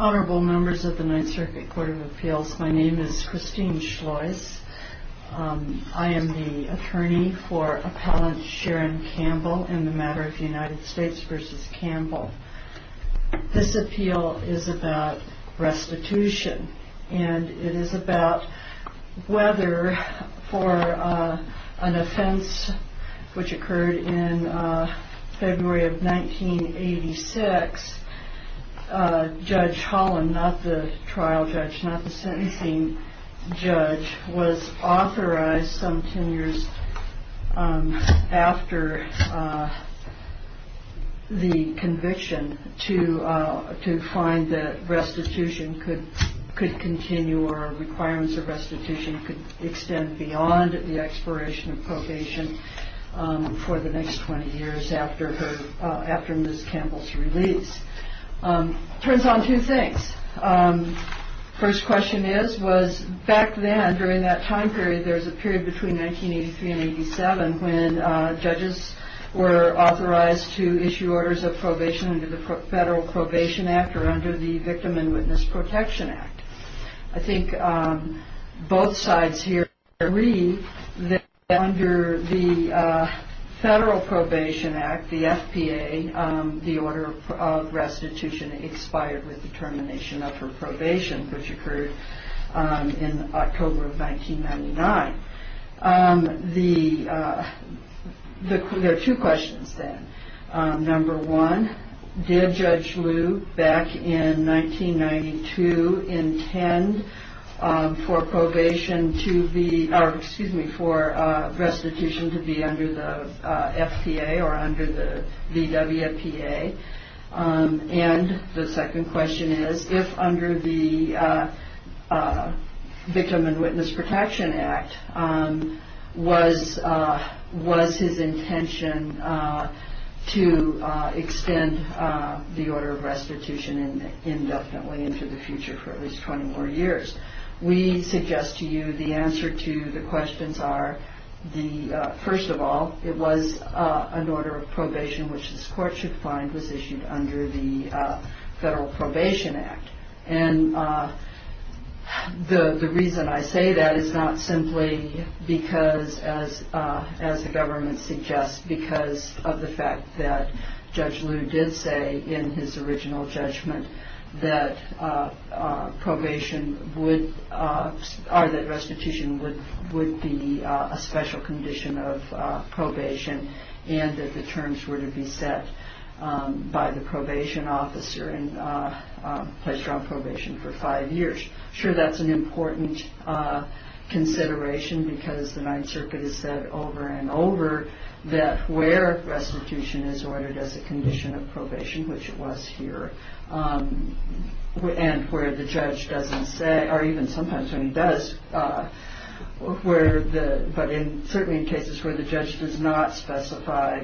Honorable members of the Ninth Circuit Court of Appeals, my name is Christine Schlois. I am the attorney for Appellant Sharon Campbell in the matter of the United States v. Campbell. This appeal is about restitution and it is about whether for an offense which occurred in February of 1986, Judge Holland, not the trial judge, not the sentencing judge, was authorized some 10 years after the conviction to find that restitution could continue or requirements of restitution could extend beyond the expiration of probation for the next 20 years after Ms. Campbell's release. It turns on two things. First question is, was back then during that time period, there was a period between 1983 and 1987 when judges were authorized to issue orders of probation under the Federal Probation Act or under the Victim and Witness Protection Act. I think both sides here agree that under the Federal Probation Act, the FPA, the order of restitution expired with the termination of her probation which occurred in October of 1999. There are two questions then. Number one, did Judge Lew back in 1992 intend for restitution to be under the FPA or under the VWPA? And the second question is, if under the Victim and Witness Protection Act, was his intention to extend the order of restitution indefinitely into the future for at least 20 more years? We suggest to you the answer to the questions are, first of all, it was an order of probation which this court should find was issued under the Federal Probation Act. And the reason I say that is not simply because, as the government suggests, because of the fact that Judge Lew did say in his original judgment that restitution would be a special condition of probation and that the terms were to be set by the probation officer and placed her on probation for five years. Sure, that's an important consideration because the Ninth Circuit has said over and over that where restitution is ordered as a condition of probation, which it was here, and where the judge doesn't say, or even sometimes when he does, but certainly in cases where the judge does not specify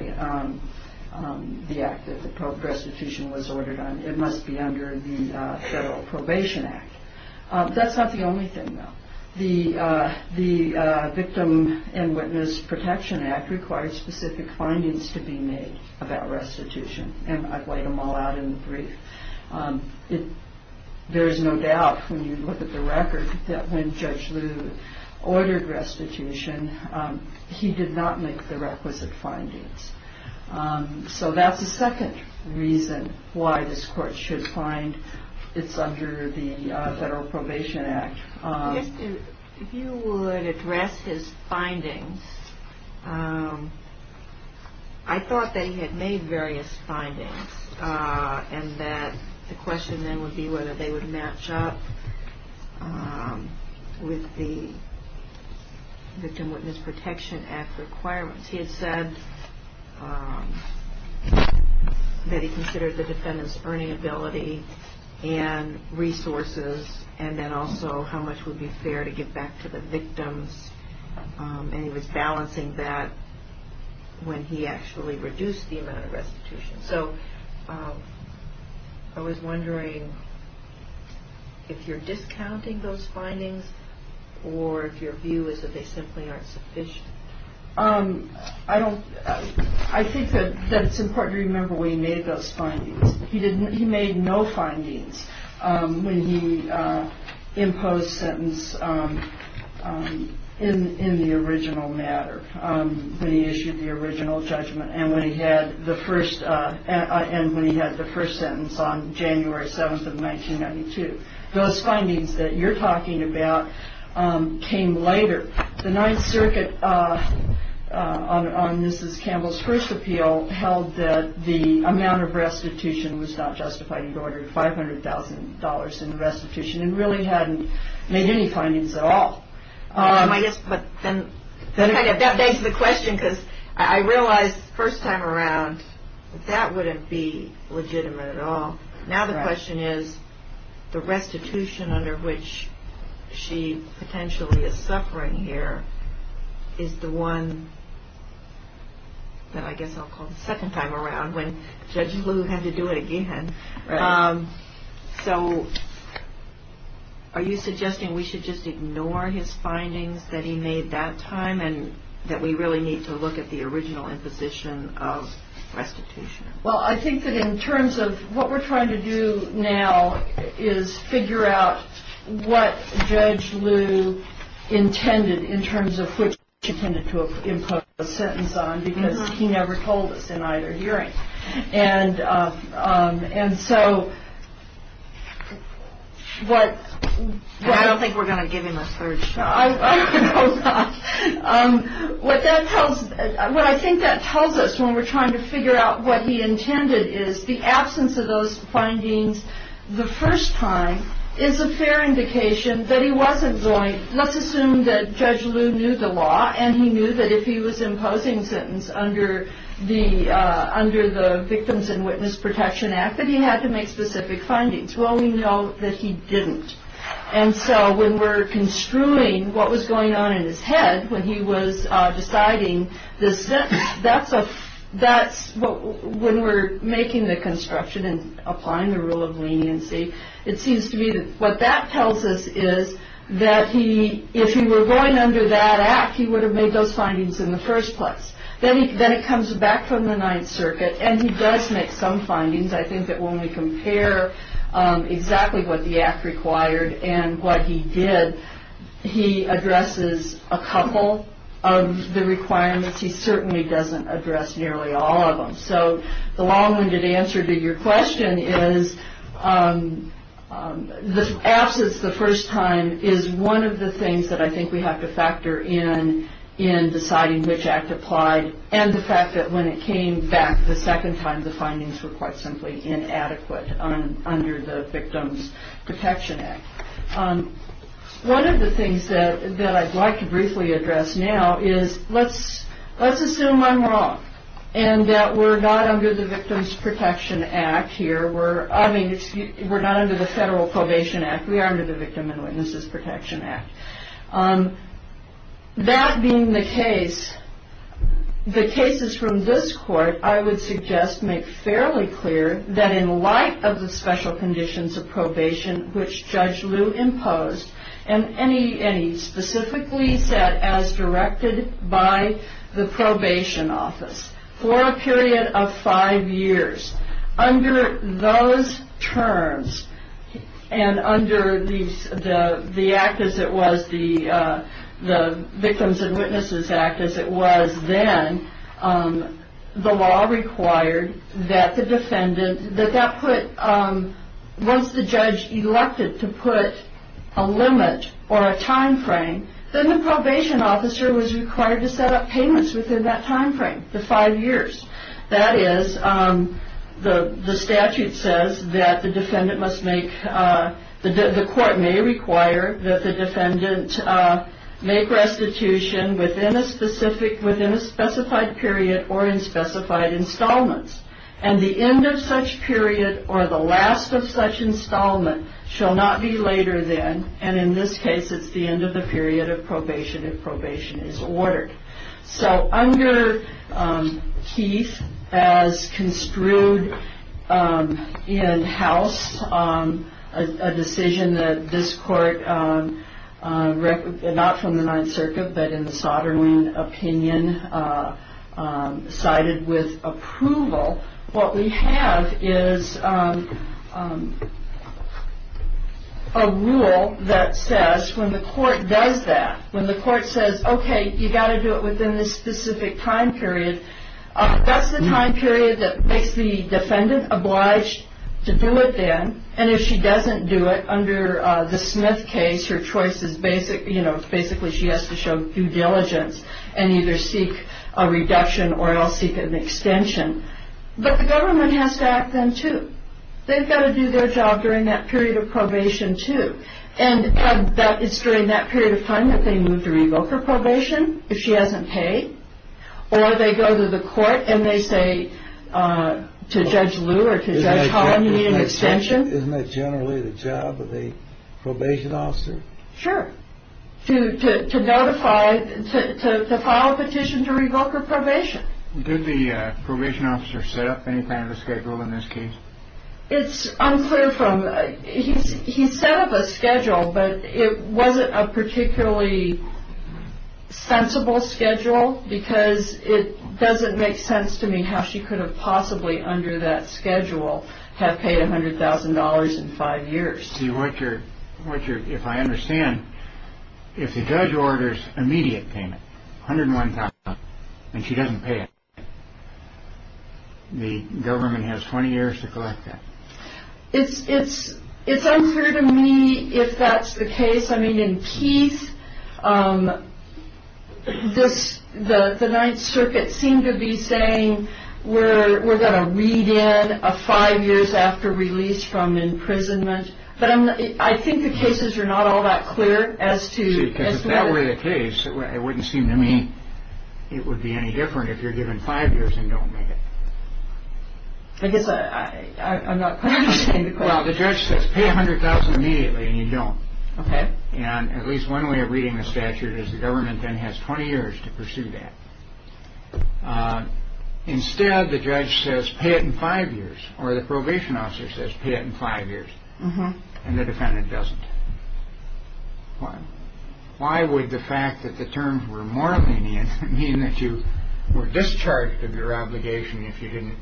the act that restitution was ordered on, it must be under the Federal Probation Act. That's not the only thing, though. The Victim and Witness Protection Act requires specific findings to be made about restitution, and I've laid them all out in the brief. There's no doubt when you look at the record that when Judge Lew ordered restitution, he did not make the requisite findings. So that's the second reason why this court should find it's under the Federal Probation Act. If you would address his findings, I thought that he had made various findings and that the question then would be whether they would match up with the Victim and Witness Protection Act requirements. He had said that he considered the defendant's earning ability and resources, and then also how much would be fair to give back to the victims, and he was balancing that when he actually reduced the amount of restitution. So I was wondering if you're discounting those findings or if your view is that they simply aren't sufficient? I think that it's important to remember where he made those findings. He made no findings when he imposed sentence in the original matter, when he issued the original judgment, and when he had the first sentence on January 7th of 1992. Those findings that you're talking about came later. The Ninth Circuit on Mrs. Campbell's first appeal held that the amount of restitution was not justified. He'd ordered $500,000 in restitution and really hadn't made any findings at all. That begs the question, because I realized the first time around that that wouldn't be legitimate at all. Now the question is, the restitution under which she potentially is suffering here is the one that I guess I'll call the second time around, when Judge Liu had to do it again. So are you suggesting we should just ignore his findings that he made that time and that we really need to look at the original imposition of restitution? Well, I think that in terms of what we're trying to do now is figure out what Judge Liu intended in terms of which he intended to impose a sentence on, because he never told us in either hearing. I don't think we're going to give him a third shot. What I think that tells us when we're trying to figure out what he intended is the absence of those findings the first time is a fair indication that he wasn't going, let's assume that Judge Liu knew the law and he knew that if he was imposing a sentence under the Victims and Witness Protection Act that he had to make specific findings. Well, we know that he didn't. And so when we're construing what was going on in his head when he was deciding this, that's a that's when we're making the construction and applying the rule of leniency. It seems to me that what that tells us is that he if he were going under that act, he would have made those findings in the first place. Then then it comes back from the Ninth Circuit and he does make some findings. I think that when we compare exactly what the act required and what he did, he addresses a couple of the requirements. He certainly doesn't address nearly all of them. So the long winded answer to your question is the absence the first time is one of the things that I think we have to factor in in deciding which act applied. And the fact that when it came back the second time, the findings were quite simply inadequate under the Victims Protection Act. One of the things that I'd like to briefly address now is let's let's assume I'm wrong and that we're not under the Victims Protection Act here. We're I mean, we're not under the Federal Probation Act. We are under the Victim and Witness Protection Act. That being the case, the cases from this court, I would suggest make fairly clear that in light of the special conditions of probation, which Judge Lew imposed and any any specifically set as directed by the probation office for a period of five years under those terms and under the act as it was, the Victims and Witnesses Act as it was then, the law required that the defendant that that put once the judge elected to put a limit or a time frame, then the probation officer was required to set up payments within that time frame, the five years. That is, the statute says that the defendant must make, the court may require that the defendant make restitution within a specific, within a specified period or in specified installments. And the end of such period or the last of such installment shall not be later than, and in this case it's the end of the period of probation if probation is ordered. So under Keith, as construed in House, a decision that this court, not from the Ninth Circuit but in the Sovereign Opinion, cited with approval, what we have is a rule that says when the court does that, when the court says, okay, you've got to do it within this specific time period, that's the time period that makes the defendant obliged to do it then. And if she doesn't do it under the Smith case, her choice is basically, you know, basically she has to show due diligence and either seek a reduction or else seek an extension. But the government has to act then too. They've got to do their job during that period of probation too. And it's during that period of time that they move to revoke her probation if she hasn't paid. Or they go to the court and they say to Judge Lew or to Judge Holland you need an extension. Isn't that generally the job of the probation officer? Sure. To notify, to file a petition to revoke her probation. Did the probation officer set up any kind of a schedule in this case? It's unclear from, he set up a schedule, but it wasn't a particularly sensible schedule because it doesn't make sense to me how she could have possibly under that schedule have paid $100,000 in five years. See, what you're, if I understand, if the judge orders immediate payment, $101,000, and she doesn't pay it, the government has 20 years to collect that. It's unclear to me if that's the case. I mean in Keith, the Ninth Circuit seemed to be saying we're going to read in five years after release from imprisonment. But I think the cases are not all that clear as to. Because if that were the case, it wouldn't seem to me it would be any different if you're given five years and don't make it. I guess I'm not quite understanding the question. Well, the judge says pay $100,000 immediately, and you don't. Okay. And at least one way of reading the statute is the government then has 20 years to pursue that. Instead, the judge says pay it in five years, or the probation officer says pay it in five years, and the defendant doesn't. Why? Why would the fact that the terms were more lenient mean that you were discharged of your obligation if you didn't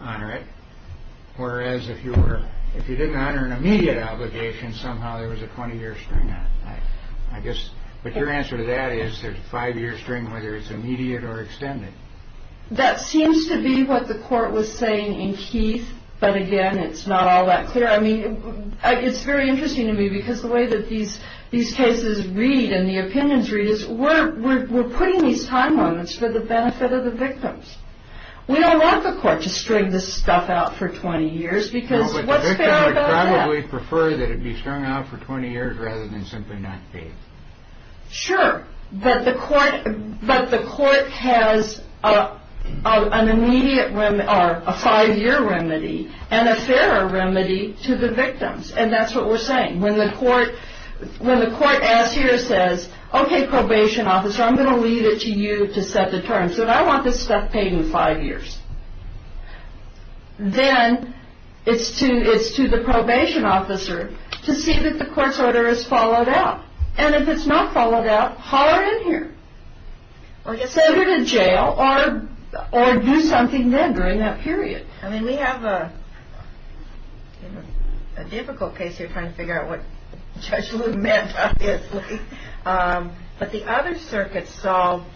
honor it? Whereas if you were, if you didn't honor an immediate obligation, somehow there was a 20 year string on it. I guess. But your answer to that is there's a five year string, whether it's immediate or extended. That seems to be what the court was saying in Keith. But again, it's not all that clear. I mean, it's very interesting to me because the way that these cases read and the opinions read is we're putting these time limits for the benefit of the victims. We don't want the court to string this stuff out for 20 years because what's fair about that? The victim would probably prefer that it be strung out for 20 years rather than simply not pay it. Sure, but the court has a five year remedy and a fairer remedy to the victims. And that's what we're saying. When the court asks here, says, okay, probation officer, I'm going to leave it to you to set the terms. But I want this stuff paid in five years. Then it's to it's to the probation officer to see that the court's order is followed up. And if it's not followed up, holler in here or get sent to jail or or do something then during that period. I mean, we have a difficult case. You're trying to figure out what you meant. But the other circuit solved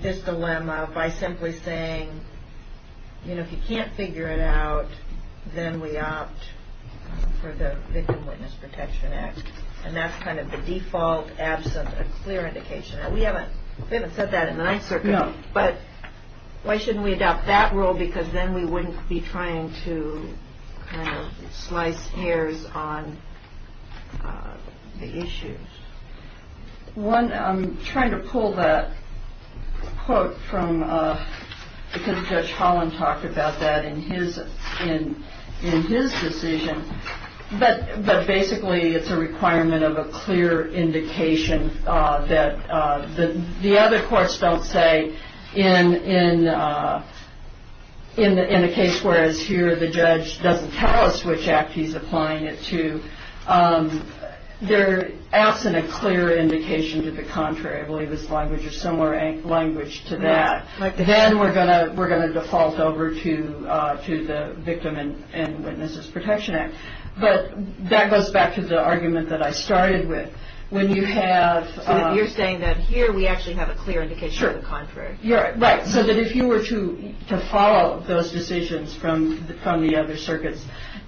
this dilemma by simply saying, you know, if you can't figure it out, then we opt for the Victim Witness Protection Act. And that's kind of the default. Absent a clear indication. We haven't said that in the Ninth Circuit, but why shouldn't we adopt that rule? Because then we wouldn't be trying to slice hairs on the issues. One I'm trying to pull that quote from because Judge Holland talked about that in his in his decision. But basically, it's a requirement of a clear indication that the other courts don't say in in in a case. Whereas here, the judge doesn't tell us which act he's applying it to. They're asking a clear indication to the contrary. Similar language to that. Then we're going to we're going to default over to to the Victim and Witnesses Protection Act. But that goes back to the argument that I started with. When you have you're saying that here we actually have a clear indication of the contrary. You're right. So that if you were to to follow those decisions from the from the other circuits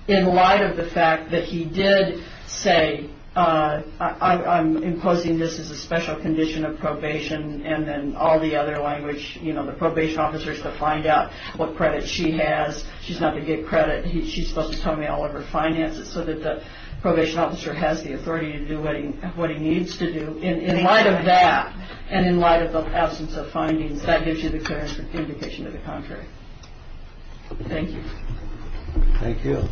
in light of the fact that he did say, I'm imposing this as a special condition of probation and then all the other language, you know, the probation officers to find out what credit she has. She's not going to get credit. She's supposed to tell me all of her finances so that the probation officer has the authority to do what he what he needs to do. In light of that and in light of the absence of findings that gives you the indication of the contrary. Thank you. Thank you.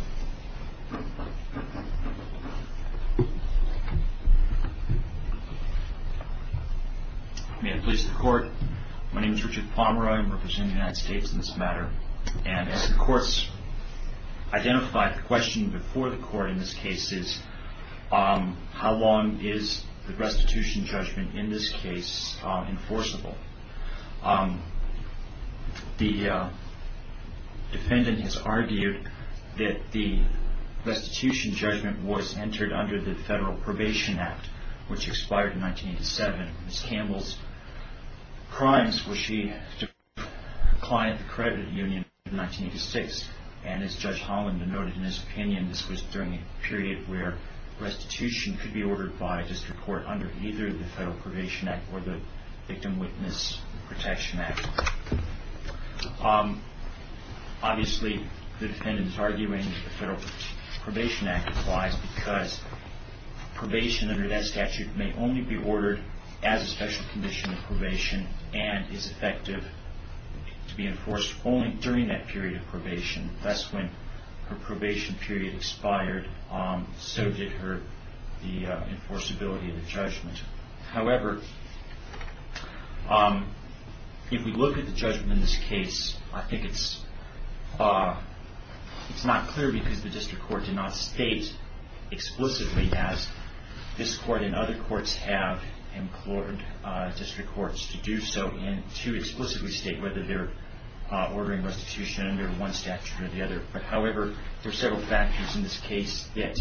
May I please the court. My name is Richard Palmer. I'm representing the United States in this matter. And of course, identify the question before the court in this case is how long is the restitution judgment in this case enforceable? The defendant has argued that the restitution judgment was entered under the Federal Probation Act, which expired in 1987. Miss Campbell's crimes were she declined the credit union in 1986. And as Judge Holland denoted in his opinion, this was during a period where restitution could be ordered by district court under either the Federal Probation Act or the Victim Witness Protection Act. Obviously, the defendant is arguing that the Federal Probation Act applies because probation under that statute may only be ordered as a special condition of probation and is effective to be enforced only during that period of probation. That's when her probation period expired. However, if we look at the judgment in this case, I think it's not clear because the district court did not state explicitly as this court and other courts have implored district courts to do so and to explicitly state whether they're ordering restitution under one statute or the other. However, there are several factors in this case that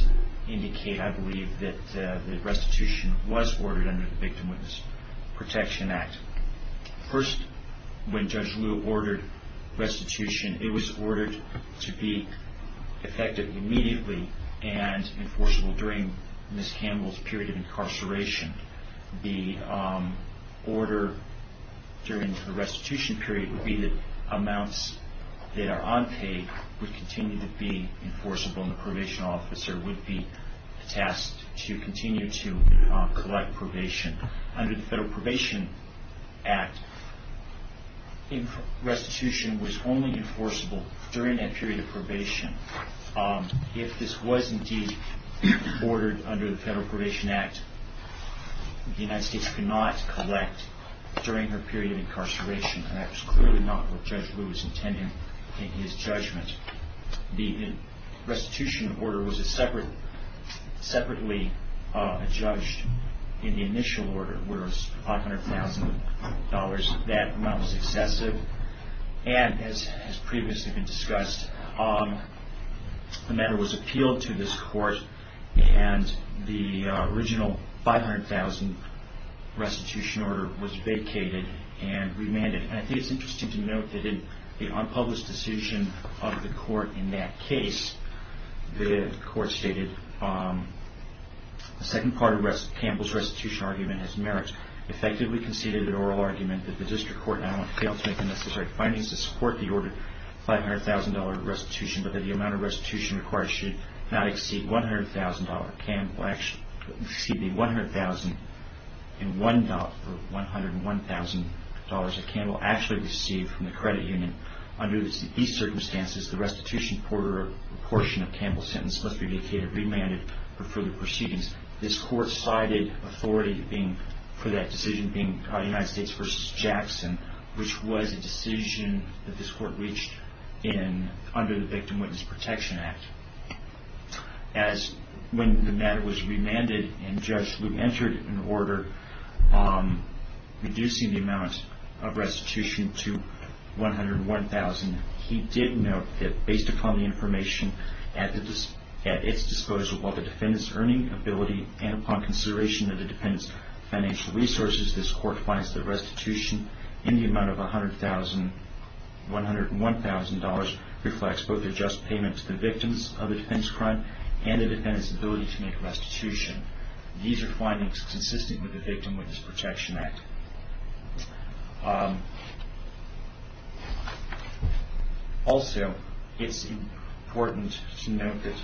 indicate, I believe, that restitution was ordered under the Victim Witness Protection Act. First, when Judge Liu ordered restitution, it was ordered to be effective immediately and enforceable during Miss Campbell's period of incarceration. The order during the restitution period would be that amounts that are unpaid would continue to be enforceable and the probation officer would be tasked to continue to collect probation. Under the Federal Probation Act, restitution was only enforceable during that period of probation. If this was indeed ordered under the Federal Probation Act, the United States could not collect during her period of incarceration and that was clearly not what Judge Liu was intending in his judgment. The restitution order was separately adjudged in the initial order where it was $500,000. That amount was excessive and, as previously been discussed, the matter was appealed to this court and the original $500,000 restitution order was vacated and remanded. I think it's interesting to note that in the unpublished decision of the court in that case, the court stated the second part of Campbell's restitution argument has merits. Effectively conceded an oral argument that the district court not only failed to make the necessary findings to support the ordered $500,000 restitution but that the amount of restitution required should not exceed the $101,000 that Campbell actually received from the credit union. Under these circumstances, the restitution portion of Campbell's sentence must be vacated and remanded for further proceedings. This court cited authority for that decision being United States v. Jackson, which was a decision that this court reached under the Victim Witness Protection Act. When the matter was remanded and Judge Lew entered an order reducing the amount of restitution to $101,000, he did note that based upon the information at its disposal, while the defendant's earning, ability, and upon consideration of the defendant's financial resources, this court finds that restitution in the amount of $101,000 reflects both the just payment to the victims of a defense crime and the defendant's ability to make restitution. These are findings consistent with the Victim Witness Protection Act. Also, it's important to note that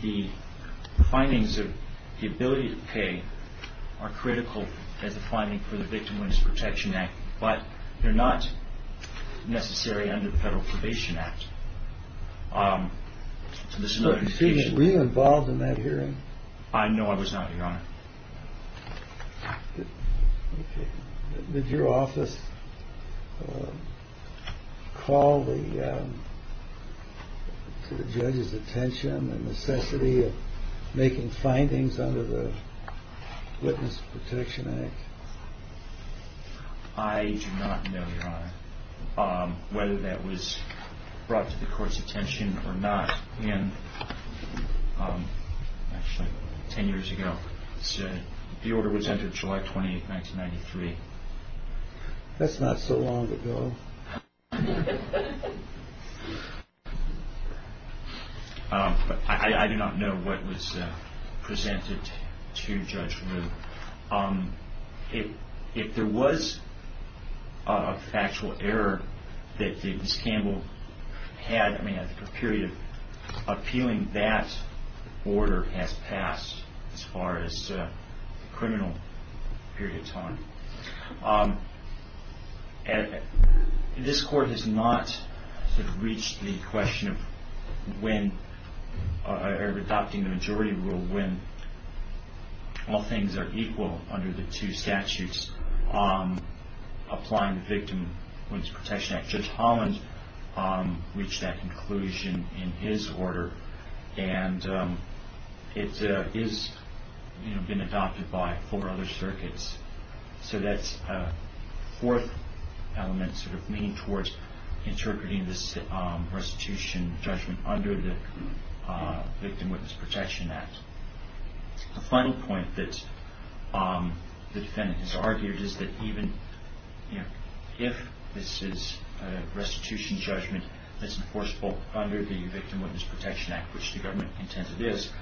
the findings of the ability to pay are critical as a finding for the Victim Witness Protection Act, but they're not necessary under the Federal Probation Act. Were you involved in that hearing? No, I was not, Your Honor. Did your office call to the judge's attention the necessity of making findings under the Witness Protection Act? I do not know, Your Honor, whether that was brought to the court's attention or not. Actually, 10 years ago, the order was entered, July 28, 1993. That's not so long ago. I do not know what was presented to Judge Rue. If there was a factual error that Ms. Campbell had, I mean, I think a period of appealing that order has passed, as far as the criminal period of time. This court has not reached the question of adopting the majority rule when all things are equal under the two statutes applying the Victim Witness Protection Act. Judge Holland reached that conclusion in his order, and it has been adopted by four other circuits. So that's a fourth element sort of leaning towards interpreting this restitution judgment under the Victim Witness Protection Act. The final point that the defendant has argued is that even if this is a restitution judgment that's enforceable under the Victim Witness Protection Act, which the government contends it is,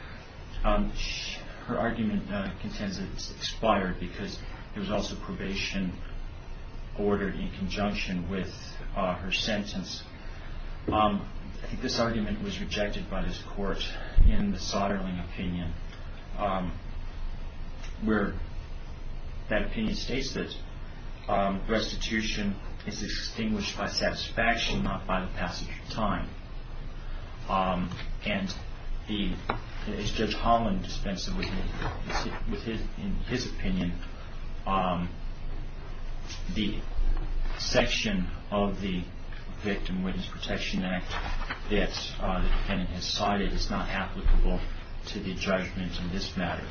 her argument contends that it's expired because there was also probation ordered in conjunction with her sentence. I think this argument was rejected by this court in the Soderling opinion, where that opinion states that restitution is extinguished by satisfaction, not by the passage of time. And as Judge Holland dispensed with in his opinion, the section of the Victim Witness Protection Act that the defendant has cited is not applicable to the judgment in this matter.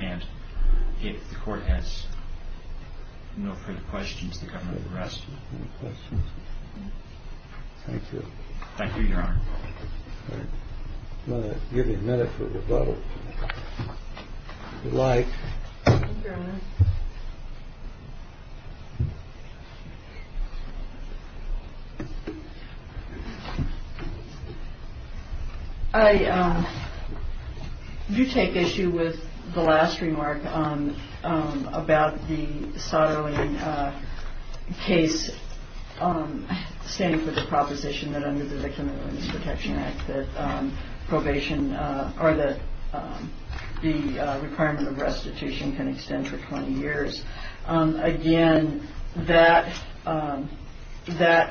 And if the court has no further questions, the government can rest. Thank you. Thank you, Your Honor. I'm going to give you a minute for your vote. If you'd like. Thank you, Your Honor. I do take issue with the last remark about the Soderling case standing for the proposition that under the Victim Witness Protection Act that the requirement of restitution can extend for 20 years. Again, that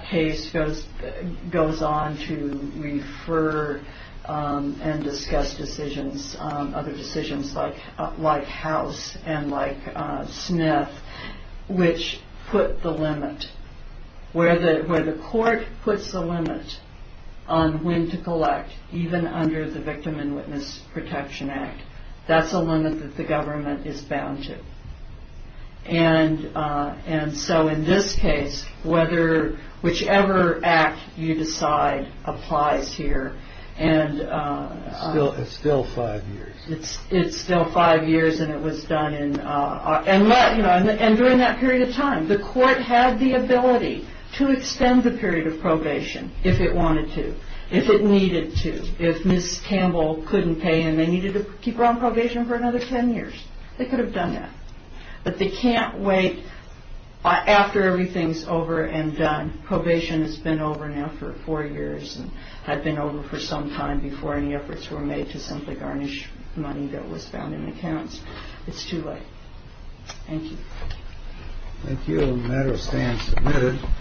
case goes on to refer and discuss decisions, other decisions like House and like Smith, which put the limit, where the court puts the limit on when to collect even under the Victim Witness Protection Act. That's a limit that the government is bound to. And so in this case, whichever act you decide applies here. It's still five years. It's still five years and it was done in, and during that period of time, the court had the ability to extend the period of probation if it wanted to, if it needed to. If Ms. Campbell couldn't pay and they needed to keep her on probation for another 10 years, they could have done that. But they can't wait after everything's over and done. Probation has been over now for four years and had been over for some time before any efforts were made to simply garnish money that was found in accounts. It's too late. Thank you. Thank you. The matter stands admitted.